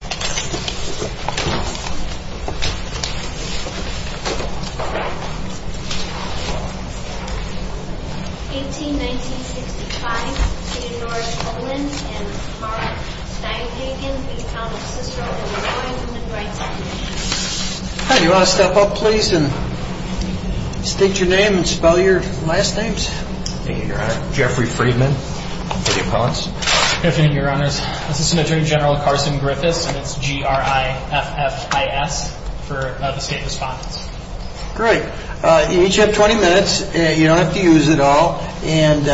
181965, City of Norris, Olin, and Carl Steinhagen v. The Town of Cicero, Illinois, Women's Rights Commission. Hi, do you want to step up, please, and state your name and spell your last names? Thank you, Your Honor. Jeffrey Friedman, for the opponents. Good afternoon, Your Honors. Assistant Attorney General Carson Griffiths, and it's G-R-I-F-F-I-S for the state respondents. Great. You each have 20 minutes. You don't have to use it all. And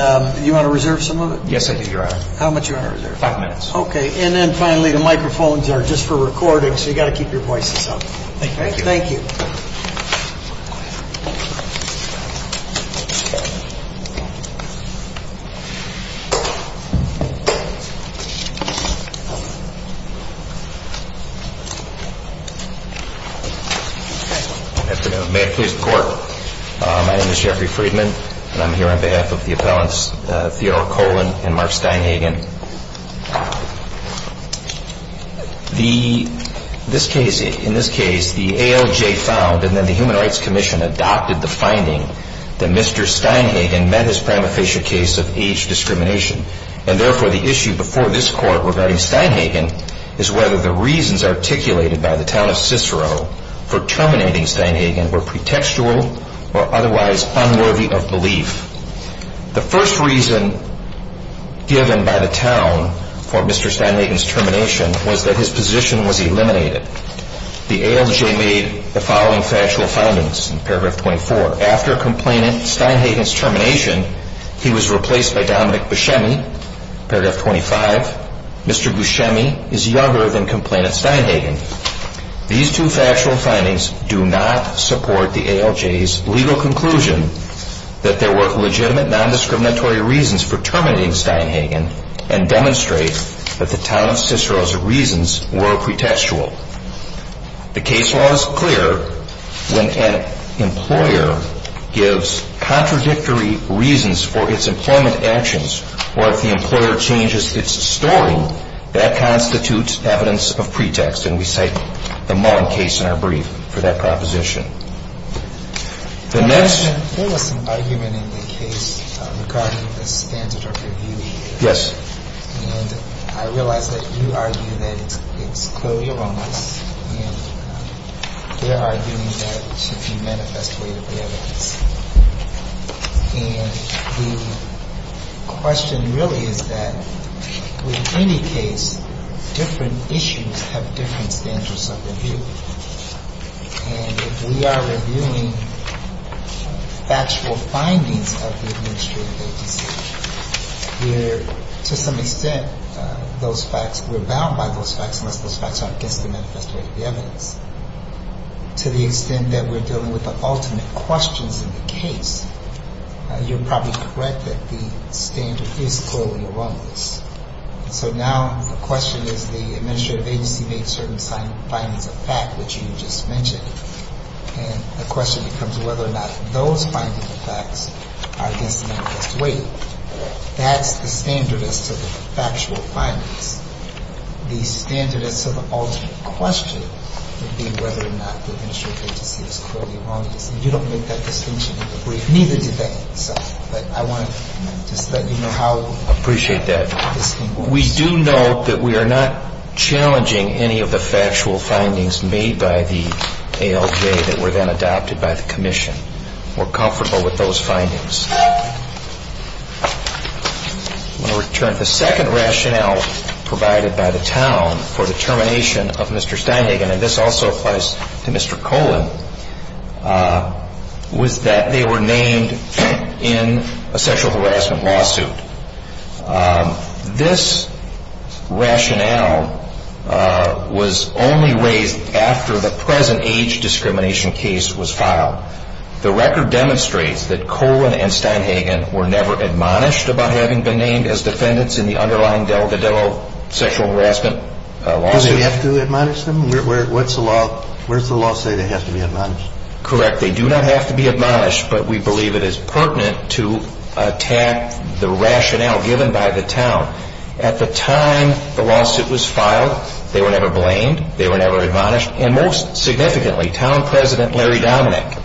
you want to reserve some of it? Yes, I do, Your Honor. How much do you want to reserve? Five minutes. Okay. And then finally, the microphones are just for recording, so you've got to keep your voices up. Thank you. Thank you. Good afternoon. May it please the Court, my name is Jeffrey Friedman, and I'm here on behalf of the appellants Theodore Colin and Mark Steinhagen. In this case, the ALJ found, and then the Human Rights Commission adopted the finding, that Mr. Steinhagen met his termination. However, the issue before this Court regarding Steinhagen is whether the reasons articulated by the town of Cicero for terminating Steinhagen were pretextual or otherwise unworthy of belief. The first reason given by the town for Mr. Steinhagen's termination was that his position was eliminated. The ALJ made the following factual findings in paragraph 24. After complainant Steinhagen's termination, he was replaced by Dominic Buscemi, paragraph 25. Mr. Buscemi is younger than complainant Steinhagen. These two factual findings do not support the ALJ's legal conclusion that there were legitimate nondiscriminatory reasons for terminating Steinhagen and demonstrate that the town of Cicero's reasons were pretextual. The case law is clear when an employer gives contradictory reasons for its employment actions, or if the employer changes its story, that constitutes evidence of pretext, and we cite the Mullen case in our brief for that proposition. The next — And the question really is that with any case, different issues have different standards of review. And if we are reviewing factual findings of the administrative agency, we're — to some extent, those facts — we're bound by those facts unless those facts aren't against the manifesto. To the extent that we're dealing with the ultimate questions in the case, you're probably correct that the standard is clearly wrong. So now the question is the administrative agency made certain findings of fact, which you just mentioned. And the question becomes whether or not those findings of facts are against the manifesto. That's the standard as to the factual findings. The standard as to the ultimate question would be whether or not the administrative agency is clearly wrong. You don't make that distinction in the brief. Neither do they. But I want to just let you know how — Appreciate that. We do note that we are not challenging any of the factual findings made by the ALJ that were then adopted by the commission. We're comfortable with those findings. I'm going to return to the second rationale provided by the town for the termination of Mr. Steindegen, and this also applies to Mr. Colin, was that they were named in a sexual harassment lawsuit. This rationale was only raised after the present age discrimination case was filed. The record demonstrates that Colin and Steindegen were never admonished about having been named as defendants in the underlying Delgado sexual harassment lawsuit. Do they have to be admonished? What's the law say they have to be admonished? Correct. They do not have to be admonished, but we believe it is pertinent to attack the rationale given by the town. At the time the lawsuit was filed, they were never blamed. They were never admonished. And most significantly, town president Larry Dominick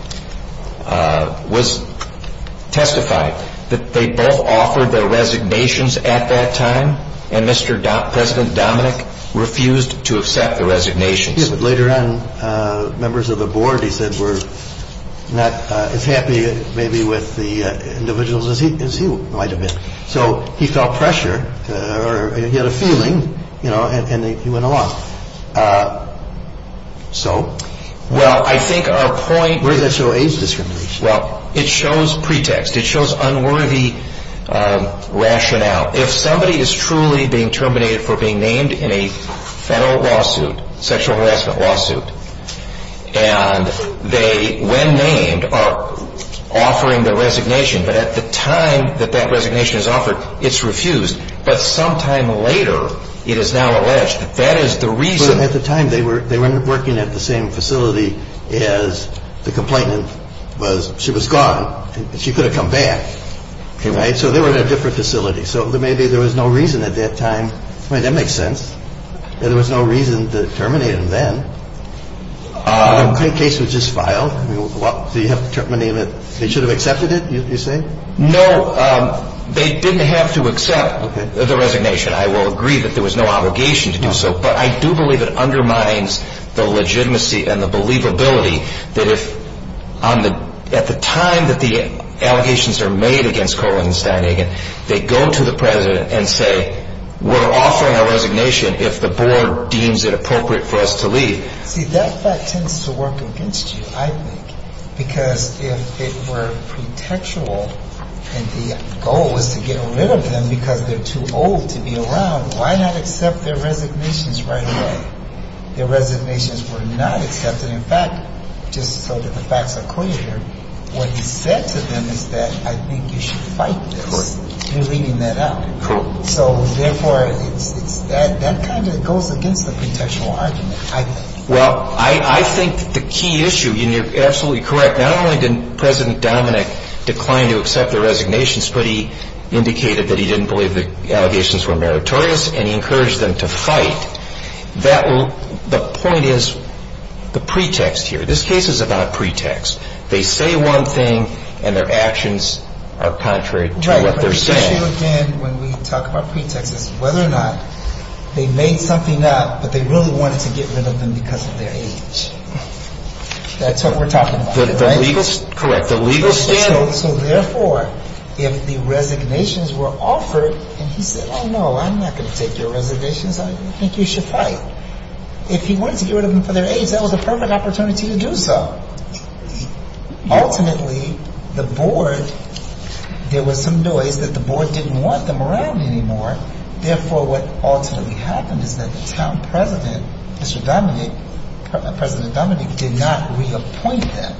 testified that they both offered their resignations at that time, and Mr. President Dominick refused to accept the resignations. Yes, but later on, members of the board, he said, were not as happy maybe with the individuals as he might have been. So he felt pressure, or he had a feeling, you know, and he went along. So? Well, I think our point is... Where does that show age discrimination? Well, it shows pretext. It shows unworthy rationale. If somebody is truly being terminated for being named in a federal lawsuit, sexual harassment lawsuit, and they, when named, are offering their resignation, but at the time that that resignation is offered, it's refused. But sometime later, it is now alleged that that is the reason... But at the time, they were working at the same facility as the complainant was. She was gone. She could have come back, right? So they were in a different facility. So maybe there was no reason at that time. I mean, that makes sense. There was no reason to terminate them then. The complaint case was just filed. Do you have to terminate it? They should have accepted it, you say? No, they didn't have to accept the resignation. I will agree that there was no obligation to do so, but I do believe it undermines the legitimacy and the believability that if, at the time that the allegations are made against Cohen and Stanagan, they go to the president and say, we're offering our resignation if the board deems it appropriate for us to leave. See, that fact tends to work against you, I think, because if it were pretextual and the goal was to get rid of them because they're too old to be around, why not accept their resignations right away? Their resignations were not accepted. Because, in fact, just so that the facts are clear, what he said to them is that I think you should fight this. You're leading that up. So, therefore, that kind of goes against the contextual argument, I think. Well, I think the key issue, and you're absolutely correct, not only did President Dominick decline to accept the resignations, but he indicated that he didn't believe the allegations were meritorious, and he encouraged them to fight. The point is the pretext here. This case is about pretext. They say one thing, and their actions are contrary to what they're saying. Right, but the issue, again, when we talk about pretext is whether or not they made something up, but they really wanted to get rid of them because of their age. That's what we're talking about, right? Correct. So, therefore, if the resignations were offered and he said, well, no, I'm not going to take your resignations. I think you should fight. If he wanted to get rid of them for their age, that was a perfect opportunity to do so. Ultimately, the board, there was some noise that the board didn't want them around anymore. Therefore, what ultimately happened is that the town president, Mr. Dominick, President Dominick, did not reappoint them.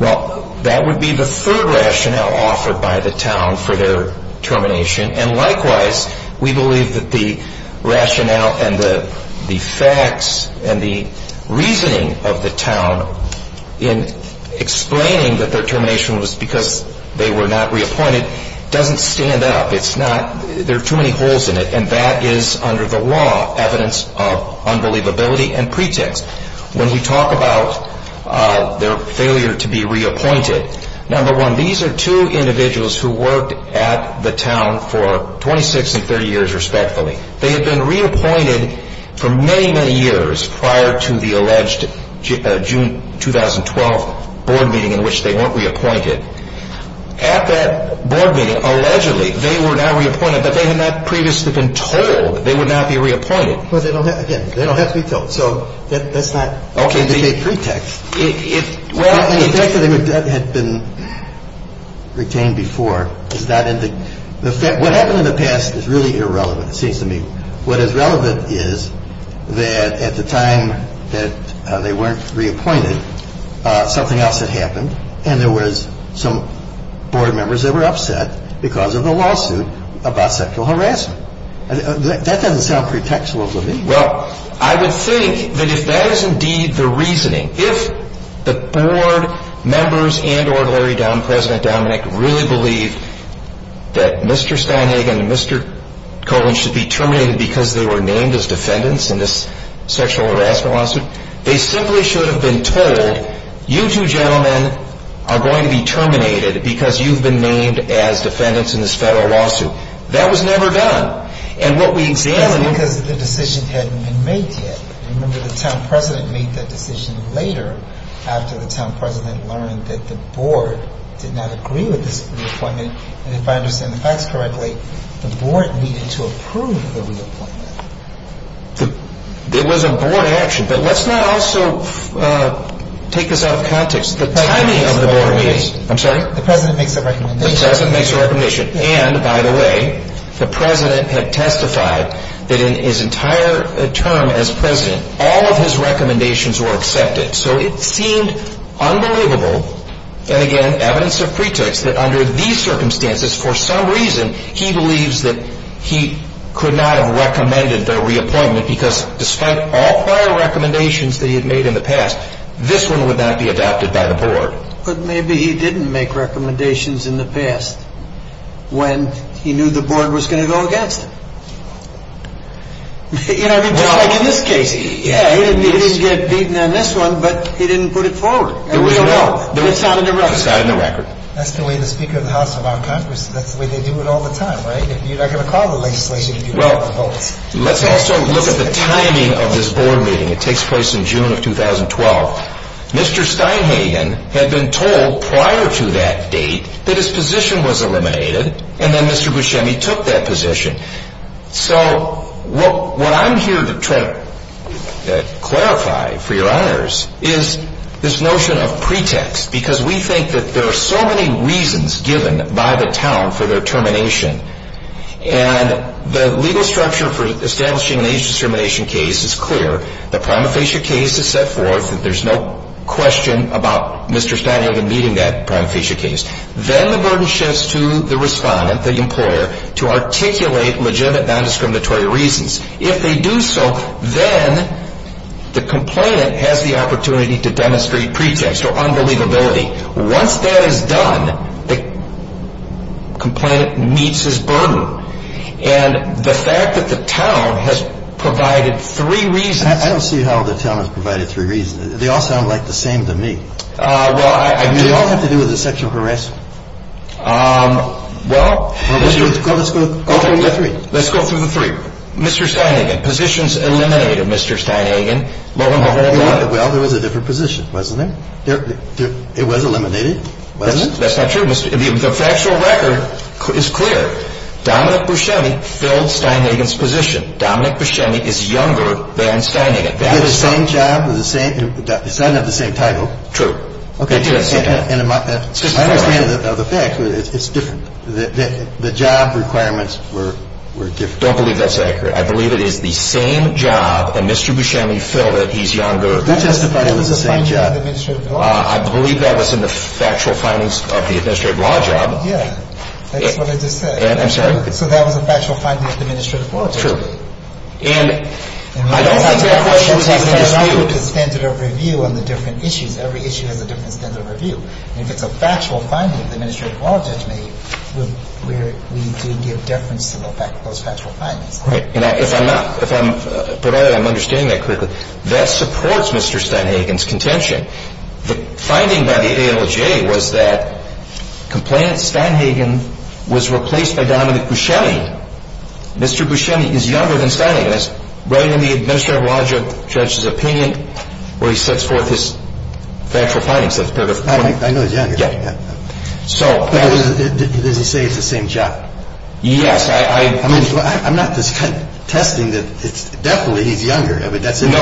Well, that would be the third rationale offered by the town for their termination, and likewise, we believe that the rationale and the facts and the reasoning of the town in explaining that their termination was because they were not reappointed doesn't stand up. It's not. There are too many holes in it, and that is, under the law, evidence of unbelievability and pretext. When we talk about their failure to be reappointed, number one, these are two individuals who worked at the town for 26 and 30 years respectfully. They had been reappointed for many, many years prior to the alleged June 2012 board meeting in which they weren't reappointed. At that board meeting, allegedly, they were now reappointed, but they had not previously been told they would not be reappointed. Well, again, they don't have to be told, so that's not a pretext. The fact that they had been retained before is not in the – what happened in the past is really irrelevant, it seems to me. What is relevant is that at the time that they weren't reappointed, something else had happened, and there was some board members that were upset because of the lawsuit about sexual harassment. That doesn't sound pretextual to me. Well, I would think that if that is indeed the reasoning, if the board members and ordinary President Dominick really believed that Mr. Steinhagen and Mr. Cohen should be terminated because they were named as defendants in this sexual harassment lawsuit, they simply should have been told, you two gentlemen are going to be terminated because you've been named as defendants in this federal lawsuit. That was never done, and what we examined – Because the decision hadn't been made yet. Remember, the town president made that decision later, after the town president learned that the board did not agree with this reappointment, and if I understand the facts correctly, the board needed to approve the reappointment. It was a board action, but let's not also take this out of context. The timing of the board meetings – I'm sorry? The president makes a recommendation. The president makes a recommendation. And, by the way, the president had testified that in his entire term as president, all of his recommendations were accepted. So it seemed unbelievable, and again, evidence of pretext, that under these circumstances, for some reason, he believes that he could not have recommended the reappointment because despite all prior recommendations that he had made in the past, this one would not be adopted by the board. But maybe he didn't make recommendations in the past when he knew the board was going to go against him. You know, I mean, just like in this case. Yeah, he didn't get beaten on this one, but he didn't put it forward. There was no doubt. It sounded irrelevant. It's not in the record. That's the way the Speaker of the House and our Congress, that's the way they do it all the time, right? You're not going to call the legislation if you don't have a vote. Let's also look at the timing of this board meeting. It takes place in June of 2012. Mr. Steinhagen had been told prior to that date that his position was eliminated, and then Mr. Buscemi took that position. So what I'm here to clarify, for your honors, is this notion of pretext, because we think that there are so many reasons given by the town for their termination, and the legal structure for establishing an age-discrimination case is clear. The prima facie case is set forth. There's no question about Mr. Steinhagen meeting that prima facie case. Then the burden shifts to the respondent, the employer, to articulate legitimate non-discriminatory reasons. If they do so, then the complainant has the opportunity to demonstrate pretext or unbelievability. Once that is done, the complainant meets his burden. And the fact that the town has provided three reasons. I don't see how the town has provided three reasons. They all sound like the same to me. Well, I do. They all have to do with the sexual harassment. Well. Let's go through the three. Let's go through the three. Mr. Steinhagen, positions eliminated. Mr. Steinhagen. Well, there was a different position, wasn't there? It was eliminated, wasn't it? That's not true. The factual record is clear. Dominic Buscemi filled Steinhagen's position. Dominic Buscemi is younger than Steinhagen. He had the same job. It sounded like the same title. True. Okay. My understanding of the fact is it's different. The job requirements were different. I don't believe that's accurate. I believe it is the same job that Mr. Buscemi filled that he's younger. You testified it was the same job. I believe that was in the factual findings of the administrative law job. Yeah. That's what I just said. I'm sorry. So that was a factual finding of the administrative law judgment. True. And I don't think that question was answered. The standard of review on the different issues. Every issue has a different standard of review. And if it's a factual finding of the administrative law judgment, we do give deference to those factual findings. And if I'm not, if I'm, but I'm understanding that correctly, that supports Mr. Steinhagen's contention. The finding by the ALJ was that complainant Steinhagen was replaced by Dominic Buscemi. Mr. Buscemi is younger than Steinhagen. That's right in the administrative law judge's opinion where he sets forth his factual findings. I know he's younger. Yeah. But does he say it's the same job? Yes. I mean, I'm not contesting that it's definitely he's younger. I mean, that's not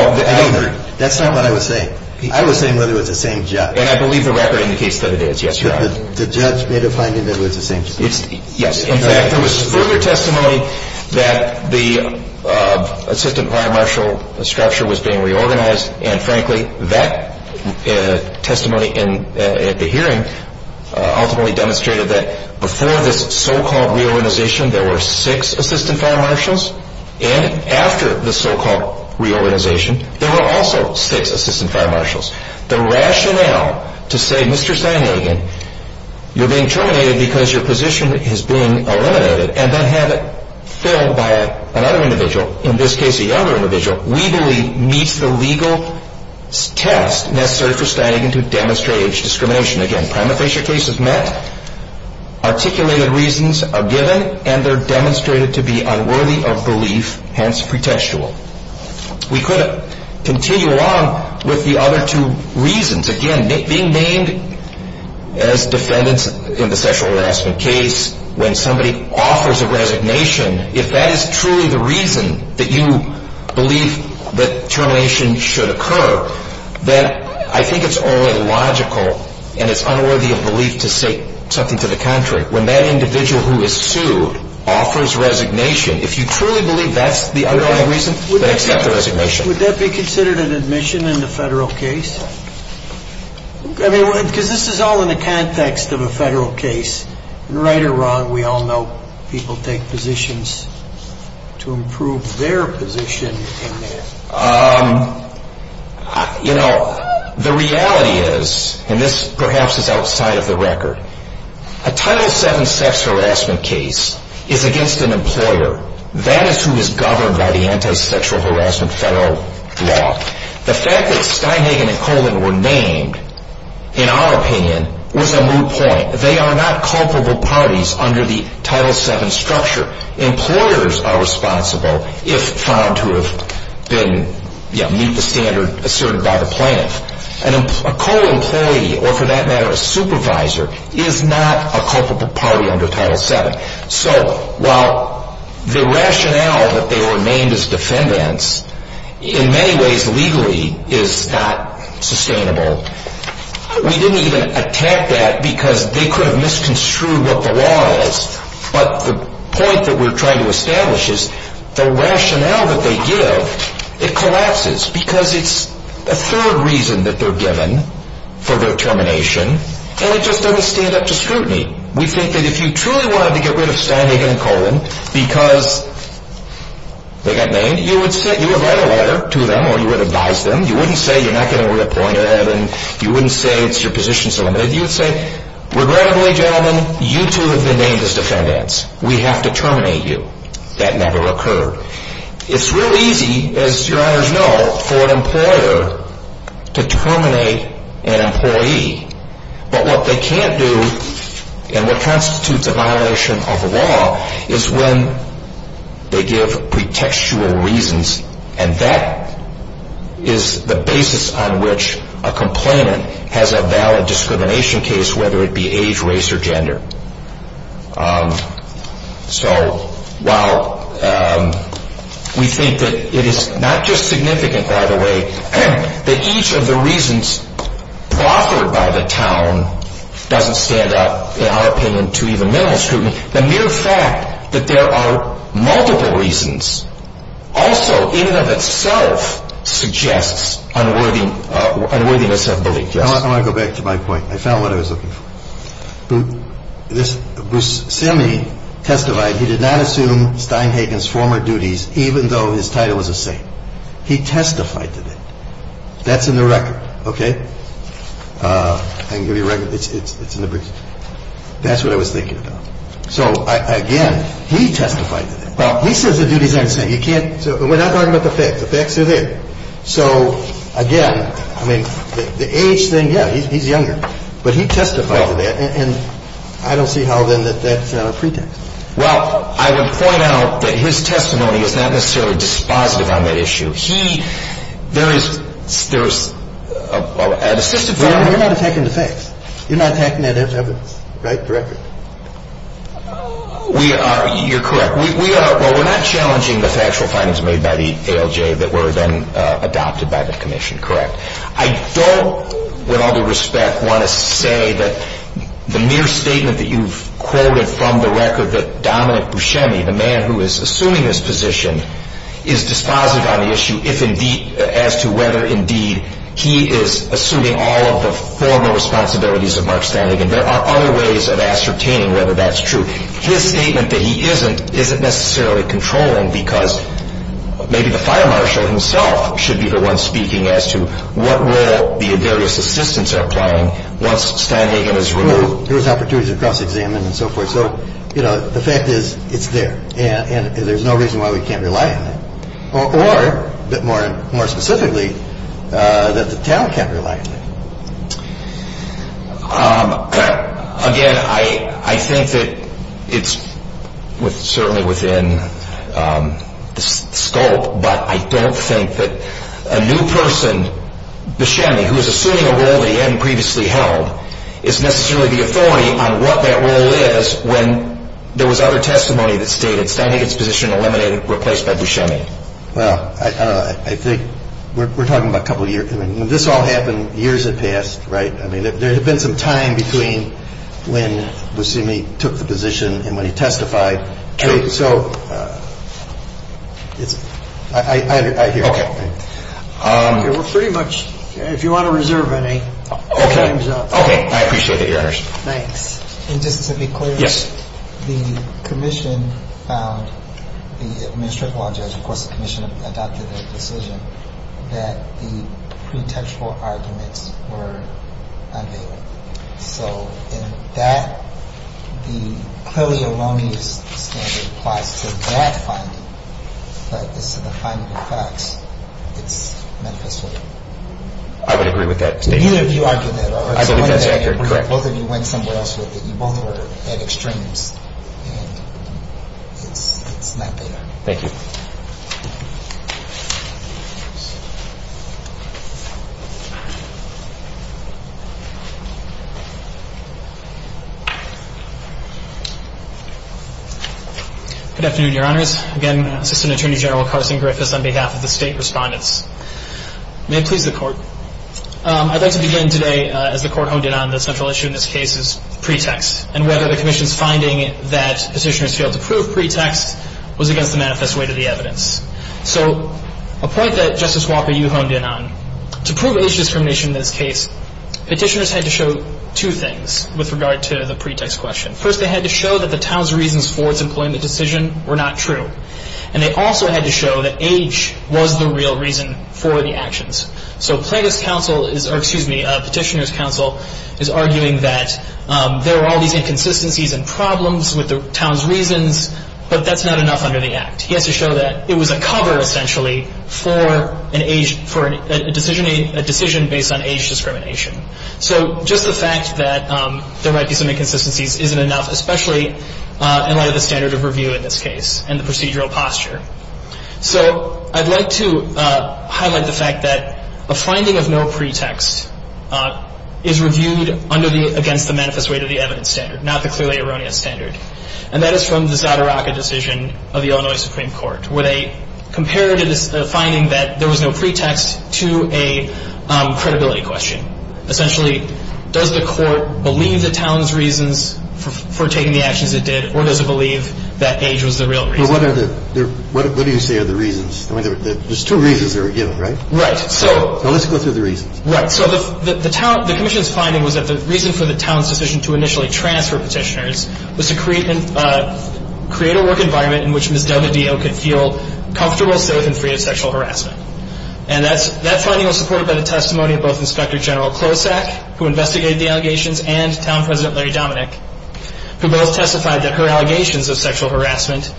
what I was saying. I was saying whether it was the same job. And I believe the record indicates that it is. Yes, Your Honor. The judge made a finding that it was the same job. Yes. In fact, there was further testimony that the assistant prime marshal structure was being reorganized. And, frankly, that testimony at the hearing ultimately demonstrated that before this so-called reorganization, there were six assistant prime marshals. And after the so-called reorganization, there were also six assistant prime marshals. The rationale to say, Mr. Steinhagen, you're being terminated because your position is being eliminated and then have it filled by another individual, in this case a younger individual, legally meets the legal test necessary for Steinhagen to demonstrate discrimination. Again, prima facie cases met, articulated reasons are given, and they're demonstrated to be unworthy of belief, hence pretextual. We could continue along with the other two reasons. Again, being named as defendants in the sexual harassment case when somebody offers a resignation, if that is truly the reason that you believe that termination should occur, then I think it's only logical and it's unworthy of belief to say something to the contrary. When that individual who is sued offers resignation, if you truly believe that's the underlying reason, then accept the resignation. Would that be considered an admission in the federal case? I mean, because this is all in the context of a federal case. Right or wrong, we all know people take positions to improve their position in there. You know, the reality is, and this perhaps is outside of the record, a Title VII sex harassment case is against an employer. That is who is governed by the Anti-Sexual Harassment Federal Law. The fact that Steinhagen and Coleman were named, in our opinion, was a moot point. They are not culpable parties under the Title VII structure. Employers are responsible if found to have been, you know, meet the standard asserted by the plaintiff. A co-employee, or for that matter a supervisor, is not a culpable party under Title VII. So while the rationale that they were named as defendants in many ways legally is not sustainable, we didn't even attack that because they could have misconstrued what the law is. But the point that we're trying to establish is the rationale that they give, it collapses because it's a third reason that they're given for their termination, and it just doesn't stand up to scrutiny. We think that if you truly wanted to get rid of Steinhagen and Coleman because they got named, you would write a letter to them or you would advise them. You wouldn't say you're not going to reappoint them, and you wouldn't say it's your position, Regrettably, gentlemen, you too have been named as defendants. We have to terminate you. That never occurred. It's real easy, as your honors know, for an employer to terminate an employee, but what they can't do and what constitutes a violation of the law is when they give pretextual reasons, and that is the basis on which a complainant has a valid discrimination case, whether it be age, race, or gender. So while we think that it is not just significant, by the way, that each of the reasons proffered by the town doesn't stand up, in our opinion, to even minimal scrutiny, the mere fact that there are multiple reasons also in and of itself suggests unworthiness of belief. I want to go back to my point. I found what I was looking for. Bruce Simney testified he did not assume Steinhagen's former duties even though his title was a saint. He testified to that. That's in the record, okay? I can give you a record. It's in the brief. That's what I was thinking about. So, again, he testified to that. He says the duties aren't a saint. You can't – we're not talking about the facts. The facts are there. So, again, I mean, the age thing, yeah, he's younger. But he testified to that, and I don't see how, then, that that's not a pretext. Well, I would point out that his testimony is not necessarily dispositive on that issue. You're not attacking the facts. You're not attacking that evidence, right? Correct? We are. You're correct. We are. Well, we're not challenging the factual findings made by the ALJ that were then adopted by the commission, correct? I don't, with all due respect, want to say that the mere statement that you've quoted from the record that Dominic Buscemi, the man who is assuming this position, is dispositive on the issue if indeed – is assuming all of the formal responsibilities of Mark Steinlegan. There are other ways of ascertaining whether that's true. His statement that he isn't isn't necessarily controlling because maybe the fire marshal himself should be the one speaking as to what role the various assistants are playing once Steinlegan is removed. Well, there was opportunities to cross-examine and so forth. So, you know, the fact is it's there, and there's no reason why we can't rely on it. Or, a bit more specifically, that the town can't rely on it. Again, I think that it's certainly within the scope, but I don't think that a new person, Buscemi, who is assuming a role that he hadn't previously held, is necessarily the authority on what that role is when there was other testimony that stated that Steinlegan's position eliminated, replaced by Buscemi. Well, I think we're talking about a couple of years. I mean, when this all happened, years had passed, right? I mean, there had been some time between when Buscemi took the position and when he testified. True. So, it's – I hear you. Okay. We're pretty much – if you want to reserve any, time's up. Okay. I appreciate that, Your Honors. Thanks. And just to be clear. Yes. The Commission found – the Administrative Law Judge, of course, the Commission adopted their decision that the pretextual arguments were unbailable. So, in that, the clearly erroneous standard applies to that finding, but as to the finding of facts, it's manifested. I would agree with that statement. Neither of you argued that, right? I believe that's accurate. Correct. Both of you went somewhere else with it. You both were at extremes, and it's not there. Thank you. Good afternoon, Your Honors. Again, Assistant Attorney General Carson Griffiths on behalf of the State Respondents. May it please the Court. I'd like to begin today, as the Court honed in on, the central issue in this case is pretext, and whether the Commission's finding that petitioners failed to prove pretext was against the manifest way to the evidence. So, a point that Justice Walker, you honed in on, to prove age discrimination in this case, petitioners had to show two things with regard to the pretext question. First, they had to show that the town's reasons for its employment decision were not true, and they also had to show that age was the real reason for the actions. So Plaintiff's counsel is, or excuse me, Petitioner's counsel, is arguing that there are all these inconsistencies and problems with the town's reasons, but that's not enough under the Act. He has to show that it was a cover, essentially, for an age, for a decision based on age discrimination. So, just the fact that there might be some inconsistencies isn't enough, especially in light of the standard of review in this case and the procedural posture. So, I'd like to highlight the fact that a finding of no pretext is reviewed against the manifest way to the evidence standard, not the clearly erroneous standard. And that is from the Zadaraka decision of the Illinois Supreme Court, where they compared a finding that there was no pretext to a credibility question. Essentially, does the court believe the town's reasons for taking the actions it did, or does it believe that age was the real reason? So, what do you say are the reasons? I mean, there's two reasons that are given, right? Right. So, let's go through the reasons. Right. So, the commission's finding was that the reason for the town's decision to initially transfer petitioners was to create a work environment in which Ms. Del Medeo could feel comfortable, safe, and free of sexual harassment. And that finding was supported by the testimony of both Inspector General Klosak, who investigated the allegations, and Town President Larry Dominick, who both testified that her allegations of sexual harassment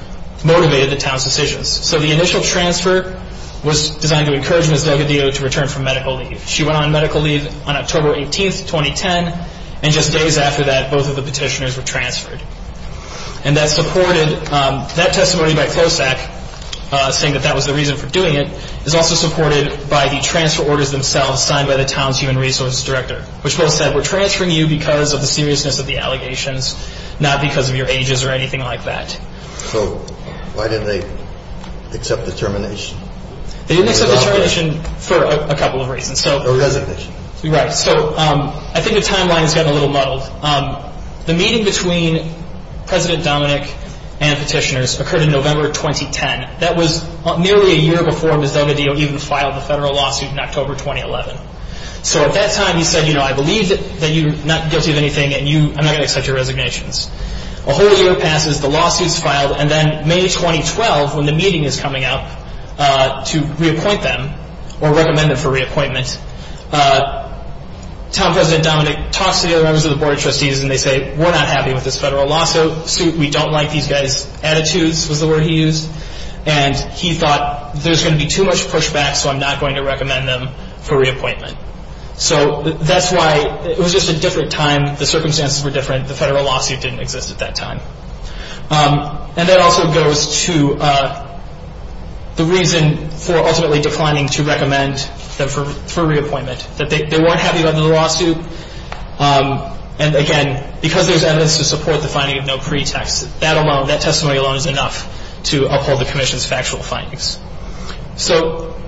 motivated the town's decisions. So, the initial transfer was designed to encourage Ms. Del Medeo to return from medical leave. She went on medical leave on October 18th, 2010, and just days after that, both of the petitioners were transferred. And that testimony by Klosak, saying that that was the reason for doing it, is also supported by the transfer orders themselves signed by the town's Human Resources Director, which both said, we're transferring you because of the seriousness of the allegations, not because of your ages or anything like that. So, why didn't they accept the termination? They didn't accept the termination for a couple of reasons. The resignation. Right. So, I think the timeline has gotten a little muddled. The meeting between President Dominick and petitioners occurred in November 2010. That was nearly a year before Ms. Del Medeo even filed a federal lawsuit in October 2011. So, at that time, he said, you know, I believe that you're not guilty of anything, and I'm not going to accept your resignations. A whole year passes, the lawsuit's filed, and then May 2012, when the meeting is coming up to reappoint them, or recommend them for reappointment, town president Dominick talks to the other members of the Board of Trustees, and they say, we're not happy with this federal lawsuit. We don't like these guys' attitudes, was the word he used. And he thought, there's going to be too much pushback, so I'm not going to recommend them for reappointment. So, that's why it was just a different time. The circumstances were different. The federal lawsuit didn't exist at that time. And that also goes to the reason for ultimately declining to recommend them for reappointment, that they weren't happy about the lawsuit. And, again, because there's evidence to support the finding of no pretext, that alone, that testimony alone is enough to uphold the Commission's factual findings. So,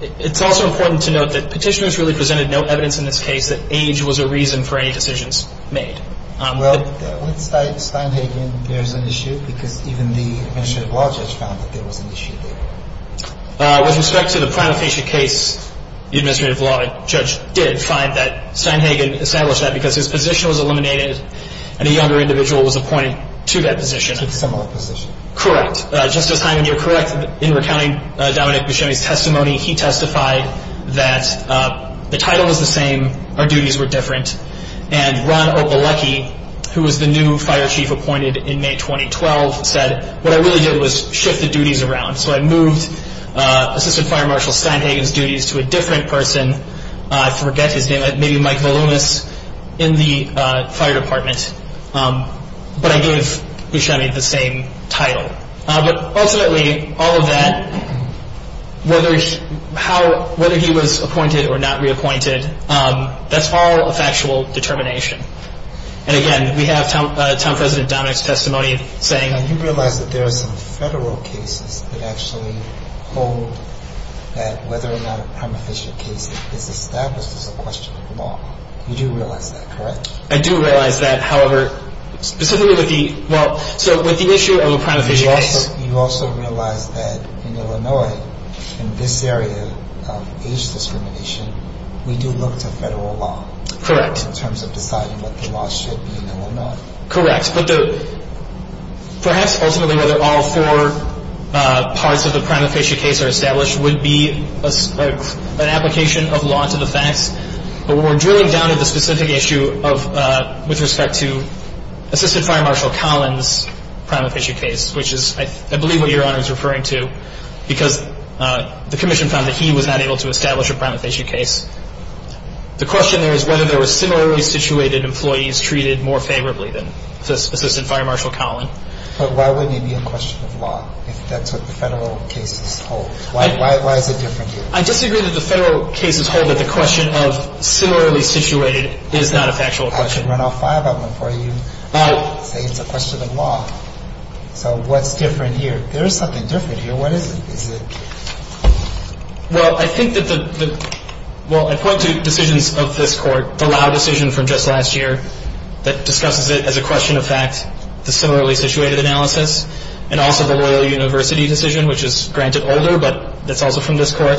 it's also important to note that petitioners really presented no evidence in this case that age was a reason for any decisions made. Well, with Steinhagen, there's an issue, because even the Administrative Law Judge found that there was an issue there. With respect to the Primal Fascia case, the Administrative Law Judge did find that Steinhagen established that because his position was eliminated and a younger individual was appointed to that position. To a similar position. Correct. Justice Hyman, you're correct in recounting Dominic Buscemi's testimony. He testified that the title was the same, our duties were different. And Ron Opolecki, who was the new Fire Chief appointed in May 2012, said, what I really did was shift the duties around. So, I moved Assistant Fire Marshal Steinhagen's duties to a different person. I forget his name, maybe Michael Loomis in the Fire Department. But I gave Buscemi the same title. But ultimately, all of that, whether he was appointed or not reappointed, that's all a factual determination. And again, we have Town President Dominic's testimony saying. You know, you realize that there are some federal cases that actually hold that whether or not a Primal Fascia case is established is a question of law. You do realize that, correct? I do realize that. However, specifically with the issue of a Primal Fascia case. You also realize that in Illinois, in this area of age discrimination, we do look to federal law. Correct. In terms of deciding what the law should be in Illinois. Correct. Perhaps ultimately whether all four parts of the Primal Fascia case are established would be an application of law to the facts. But when we're drilling down to the specific issue with respect to Assistant Fire Marshal Collins' Primal Fascia case, which is, I believe, what Your Honor is referring to. Because the Commission found that he was not able to establish a Primal Fascia case. The question there is whether there were similarly situated employees treated more favorably than Assistant Fire Marshal Collins. But why wouldn't it be a question of law if that's what the federal cases hold? Why is it different here? I disagree that the federal cases hold that the question of similarly situated is not a factual question. I should run all five of them for you and say it's a question of law. So what's different here? There is something different here. What is it? Well, I think that the – well, I point to decisions of this Court. The Lau decision from just last year that discusses it as a question of fact, the similarly situated analysis, and also the Loyal University decision, which is, granted, older, but that's also from this Court.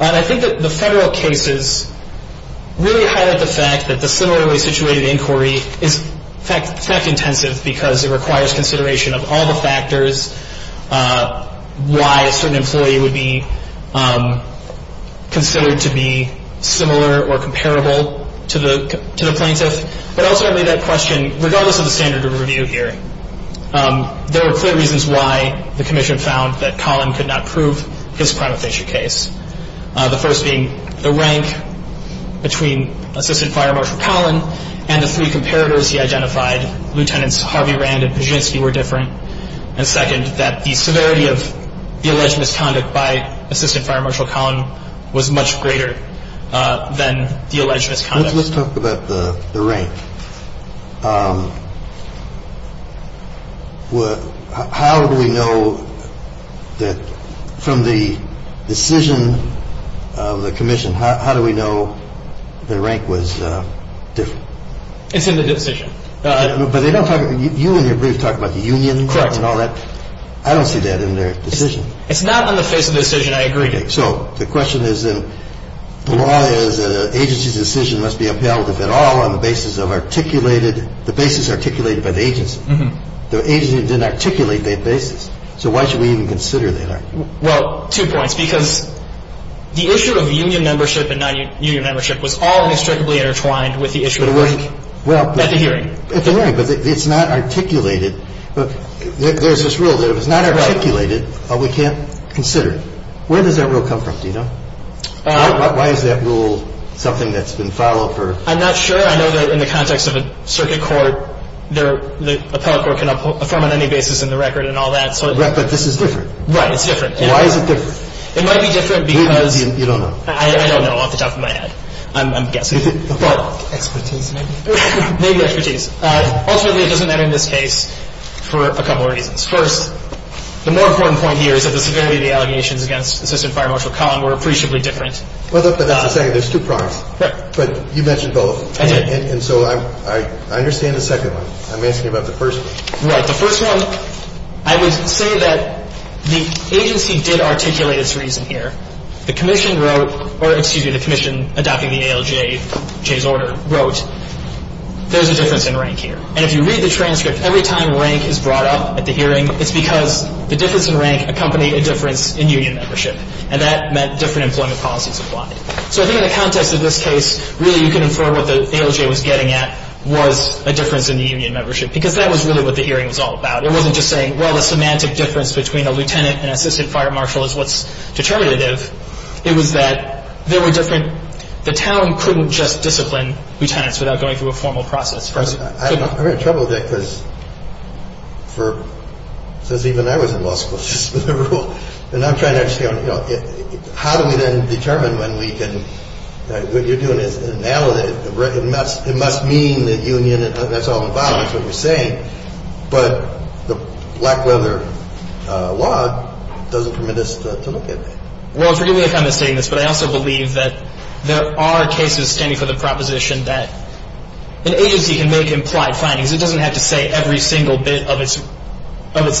And I think that the federal cases really highlight the fact that the similarly situated inquiry is fact-intensive because it requires consideration of all the factors why a certain employee would be considered to be similar or comparable to the plaintiff. But ultimately, that question, regardless of the standard of review here, there are three reasons why the Commission found that Collin could not prove his prima facie case, the first being the rank between Assistant Fire Marshal Collin and the three comparators he identified. Lieutenants Harvey Rand and Pazzynski were different. And second, that the severity of the alleged misconduct by Assistant Fire Marshal Collin was much greater than the alleged misconduct. Let's talk about the rank. How do we know that from the decision of the Commission, how do we know the rank was different? It's in the decision. But you and your brief talk about the unions and all that. Correct. I don't see that in their decision. It's not on the face of the decision. I agree. So the question is, the law is that an agency's decision must be upheld, if at all, on the basis of articulated, the basis articulated by the agency. The agency didn't articulate that basis. So why should we even consider that? Well, two points. Because the issue of union membership and non-union membership was all inextricably intertwined with the issue of rank at the hearing. At the hearing, but it's not articulated. There's this rule that if it's not articulated, we can't consider it. Where does that rule come from? Do you know? Why is that rule something that's been followed for? I'm not sure. I know that in the context of a circuit court, the appellate court can affirm on any basis in the record and all that. But this is different. Right. It's different. Why is it different? It might be different because. You don't know. I don't know off the top of my head. I'm guessing. Expertise, maybe. Maybe expertise. Ultimately, it doesn't matter in this case for a couple of reasons. First, the more important point here is that the severity of the allegations against Assistant Fire Marshal Collin were appreciably different. But that's the second. There's two prongs. Right. But you mentioned both. I did. And so I understand the second one. I'm asking about the first one. Right. The first one, I would say that the agency did articulate its reason here. The commission wrote, or excuse me, the commission adopting the ALJJ's order wrote, there's a difference in rank here. And if you read the transcript, every time rank is brought up at the hearing, it's because the difference in rank accompanied a difference in union membership. And that meant different employment policies applied. So I think in the context of this case, really you can infer what the ALJ was getting at was a difference in the union membership, because that was really what the hearing was all about. It wasn't just saying, well, the semantic difference between a lieutenant and assistant fire marshal is what's determinative. It was that there were different – the town couldn't just discipline lieutenants without going through a formal process. I'm in trouble with that because for – since even I was in law school, just for the rule. And I'm trying to understand, you know, how do we then determine when we can – what you're doing is – and now it must mean that union – that's all involved, is what you're saying. But the black leather law doesn't permit us to look at that. Well, forgive me for kind of stating this, but I also believe that there are cases standing for the proposition that an agency can make implied findings. It doesn't have to say every single bit of its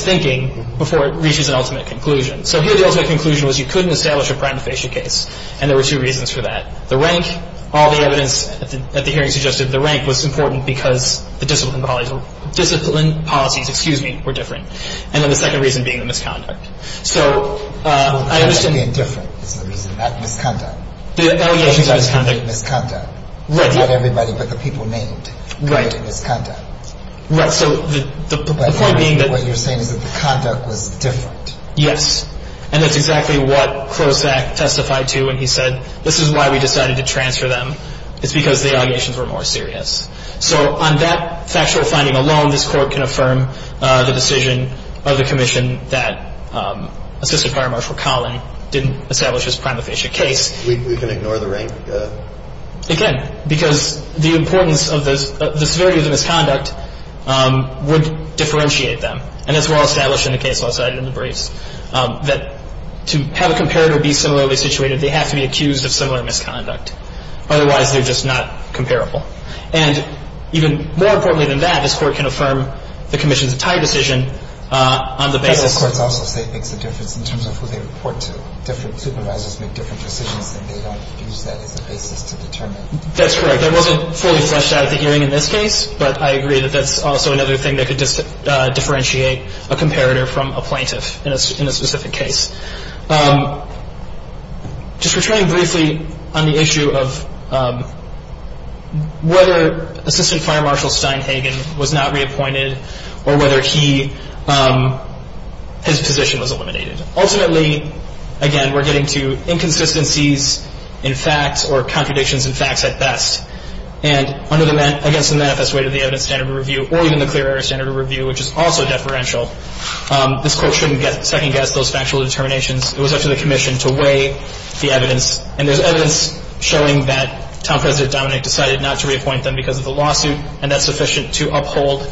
thinking before it reaches an ultimate conclusion. So here the ultimate conclusion was you couldn't establish a prima facie case. And there were two reasons for that. The rank – all the evidence at the hearing suggested the rank was important because the discipline policies – excuse me – were different. And then the second reason being the misconduct. So I understand – Well, the fact that they're different is the reason, not the misconduct. The allegations are misconduct. The misconduct. Right. Not everybody, but the people named. Right. The misconduct. Right. So the point being that – But what you're saying is that the conduct was different. Yes. And that's exactly what Klosak testified to when he said this is why we decided to transfer them. It's because the allegations were more serious. So on that factual finding alone, this Court can affirm the decision of the Commission that Assistant Fire Marshal Collin didn't establish his prima facie case. We can ignore the rank? It can because the importance of the severity of the misconduct would differentiate them. And as we're all established in the case law cited in the briefs, that to have a comparator be similarly situated, they have to be accused of similar misconduct. Otherwise, they're just not comparable. And even more importantly than that, this Court can affirm the Commission's entire decision on the basis – But as courts also say, it makes a difference in terms of who they report to. Different supervisors make different decisions, and they don't use that as a basis to determine. That's correct. That wasn't fully fleshed out at the hearing in this case, but I agree that that's also another thing that could differentiate a comparator from a plaintiff in a specific case. Just returning briefly on the issue of whether Assistant Fire Marshal Steinhagen was not reappointed or whether he – his position was eliminated. Ultimately, again, we're getting to inconsistencies in facts or contradictions in facts at best. And under the – against the manifest weight of the Evidence Standard Review or even the Clear Air Standard Review, which is also deferential, this Court shouldn't second-guess those factual determinations. It was up to the Commission to weigh the evidence. And there's evidence showing that Town President Dominick decided not to reappoint them because of the lawsuit, and that's sufficient to uphold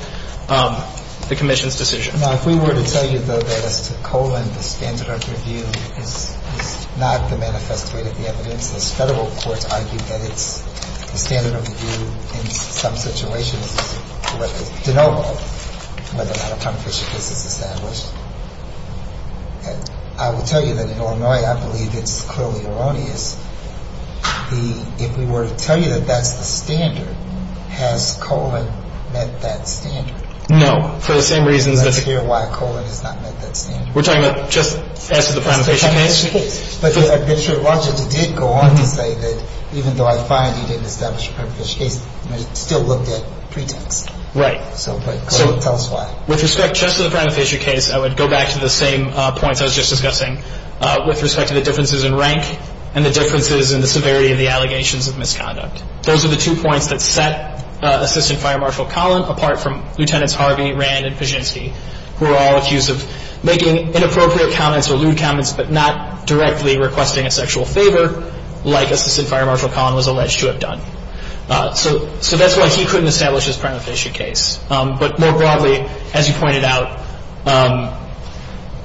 the Commission's decision. Now, if we were to tell you, though, that as to Colin, the Standard of Review is not the manifest weight of the evidence, this Federal court argued that it's the Standard of Review in some situations to know whether or not a prima facie case is established. And I will tell you that in Illinois, I believe it's clearly erroneous. The – if we were to tell you that that's the standard, has Colin met that standard? No, for the same reasons that's – I'd like to hear why Colin has not met that standard. We're talking about just as to the prima facie case? As to the prima facie case. But the judge did go on to say that even though I find he didn't establish a prima facie case, he still looked at pretense. Right. So tell us why. With respect just to the prima facie case, I would go back to the same points I was just discussing with respect to the differences in rank and the differences in the severity of the allegations of misconduct. Those are the two points that set Assistant Fire Marshal Colin apart from Lieutenants Harvey, Rand, and Pijinski, who are all accused of making inappropriate comments or lewd comments but not directly requesting a sexual favor like Assistant Fire Marshal Colin was alleged to have done. So that's why he couldn't establish his prima facie case. But more broadly, as you pointed out,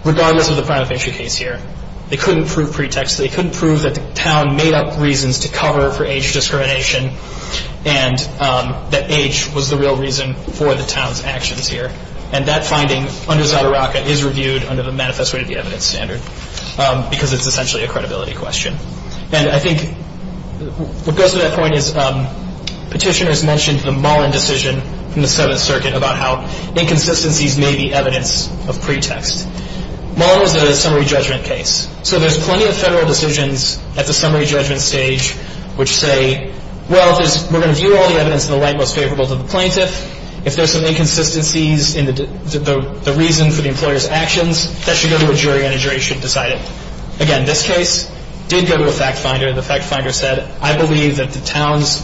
regardless of the prima facie case here, they couldn't prove pretext. They couldn't prove that the town made up reasons to cover for age discrimination and that age was the real reason for the town's actions here. And that finding under Zadaraka is reviewed under the Manifest Rate of Evidence standard because it's essentially a credibility question. And I think what goes to that point is petitioners mentioned the Mullin decision in the Seventh Circuit about how inconsistencies may be evidence of pretext. Mullin was a summary judgment case. So there's plenty of federal decisions at the summary judgment stage which say, well, we're going to view all the evidence in the light most favorable to the plaintiff. If there's some inconsistencies in the reason for the employer's actions, that should go to a jury and a jury should decide it. Again, this case did go to a fact finder. The fact finder said, I believe that the town's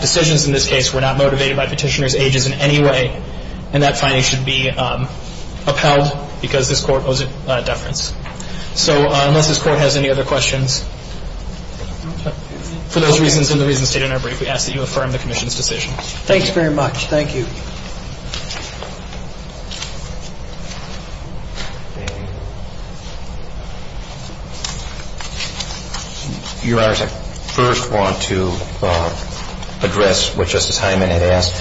decisions in this case were not motivated by petitioner's ages in any way. And that finding should be upheld because this court was at deference. So unless this court has any other questions, for those reasons and the reasons stated in our brief, we ask that you affirm the commission's decision. Thank you very much. Thank you. Your Honor, I first want to address what Justice Hyman had asked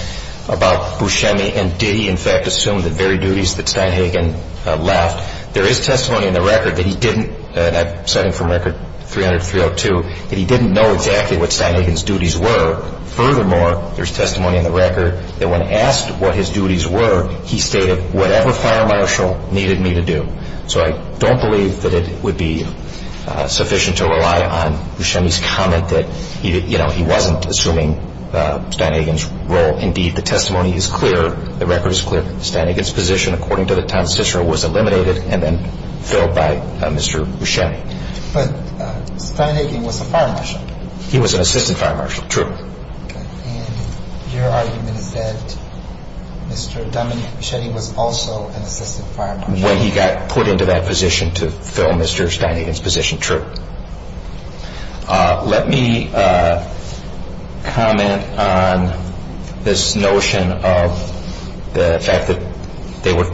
about Buscemi and did he in fact assume the very duties that Steinhagen left. There is testimony in the record that he didn't, and I'm citing from Record 300-302, that he didn't know exactly what Steinhagen's duties were. Furthermore, there's testimony in the record that when asked what his duties were, he stated whatever fire marshal needed me to do. So I don't believe that it would be sufficient to rely on Buscemi's comment that, you know, he wasn't assuming Steinhagen's role. Indeed, the testimony is clear, the record is clear, Steinhagen's position according to the town's decision was eliminated and then filled by Mr. Buscemi. But Steinhagen was a fire marshal. He was an assistant fire marshal. True. And your argument is that Mr. Dominique Buscemi was also an assistant fire marshal. When he got put into that position to fill Mr. Steinhagen's position. True. Let me comment on this notion of the fact that both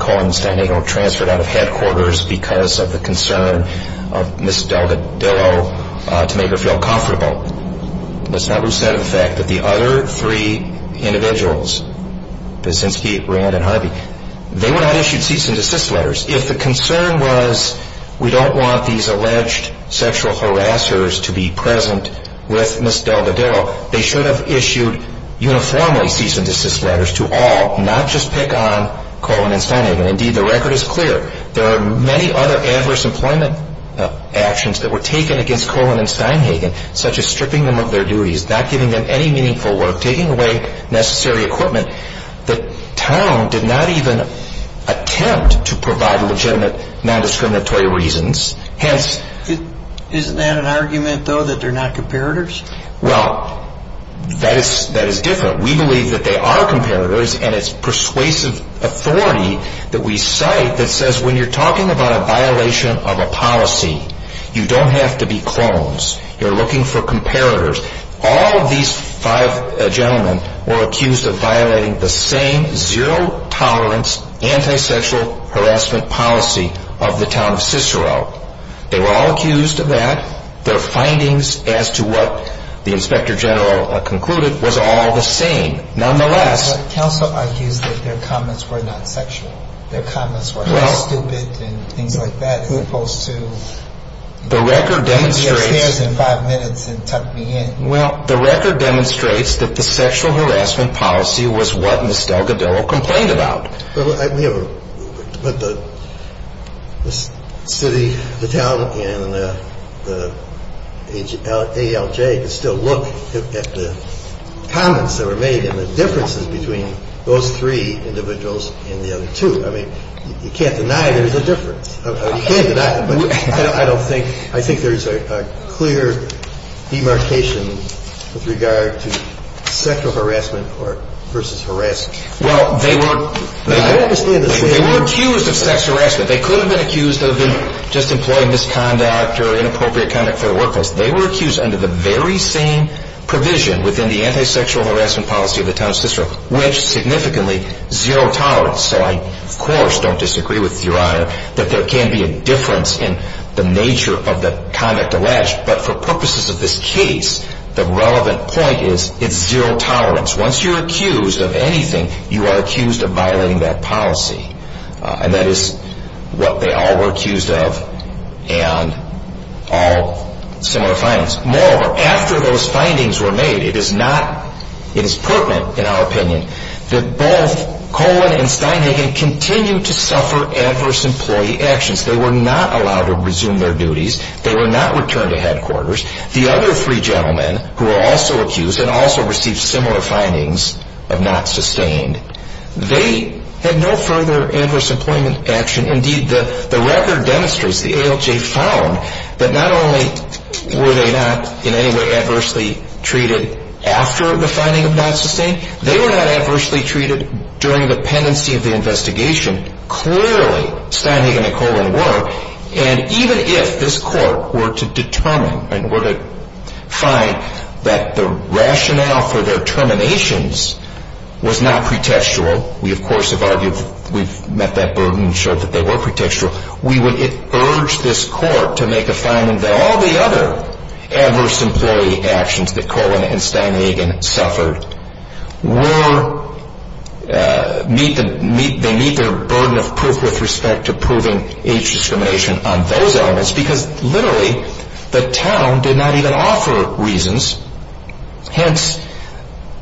Cohen and Steinhagen were transferred out of headquarters because of the concern of Ms. Delgadillo to make her feel comfortable. Let's not lose sight of the fact that the other three individuals, since he, Rand and Harvey, they were not issued cease and desist letters. If the concern was we don't want these alleged sexual harassers to be present with Ms. Delgadillo, they should have issued uniformly cease and desist letters to all, not just pick on Cohen and Steinhagen. Indeed, the record is clear. There are many other adverse employment actions that were taken against Cohen and Steinhagen, such as stripping them of their duties, not giving them any meaningful work, taking away necessary equipment. The town did not even attempt to provide legitimate nondiscriminatory reasons. Isn't that an argument, though, that they're not comparators? Well, that is different. We believe that they are comparators, and it's persuasive authority that we cite that says when you're talking about a violation of a policy, you don't have to be clones. You're looking for comparators. All of these five gentlemen were accused of violating the same zero-tolerance, anti-sexual harassment policy of the town of Cicero. They were all accused of that. Their findings as to what the inspector general concluded was all the same. Nonetheless. But counsel argues that their comments were not sexual. Their comments were not stupid and things like that, as opposed to be upstairs in five minutes and tuck me in. Well, the record demonstrates that the sexual harassment policy was what Ms. Delgadillo complained about. But the city, the town, and the ALJ can still look at the comments that were made and the differences between those three individuals and the other two. I mean, you can't deny there's a difference. You can't deny it, but I don't think – I think there's a clear demarcation with regard to sexual harassment versus harassment. Well, they were accused of sex harassment. They could have been accused of just employee misconduct or inappropriate conduct for the workplace. They were accused under the very same provision within the anti-sexual harassment policy of the town of Cicero, which significantly zero-tolerance. So I, of course, don't disagree with Your Honor that there can be a difference in the nature of the conduct alleged. But for purposes of this case, the relevant point is it's zero-tolerance. Once you're accused of anything, you are accused of violating that policy. And that is what they all were accused of and all similar findings. Moreover, after those findings were made, it is not – it is pertinent, in our opinion, that both Coleman and Steinhagen continue to suffer adverse employee actions. They were not allowed to resume their duties. They were not returned to headquarters. The other three gentlemen who were also accused and also received similar findings of not sustained, they had no further adverse employment action. Indeed, the record demonstrates, the ALJ found, that not only were they not in any way adversely treated after the finding of not sustained, they were not adversely treated during the pendency of the investigation. Clearly, Steinhagen and Coleman were. And even if this court were to determine and were to find that the rationale for their terminations was not pretextual, we, of course, have argued that we've met that burden and showed that they were pretextual, we would urge this court to make a finding that all the other adverse employee actions that Coleman and Steinhagen suffered were – meet the – they meet their burden of proof with respect to proving age discrimination on those elements because, literally, the town did not even offer reasons. Hence,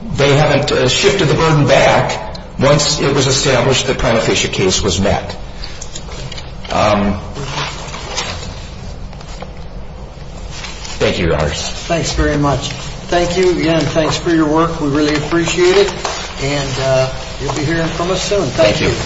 they haven't shifted the burden back. Once it was established, the prima facie case was met. Thank you, Your Honors. Thanks very much. Thank you again. Thanks for your work. We really appreciate it. And you'll be hearing from us soon. Thank you.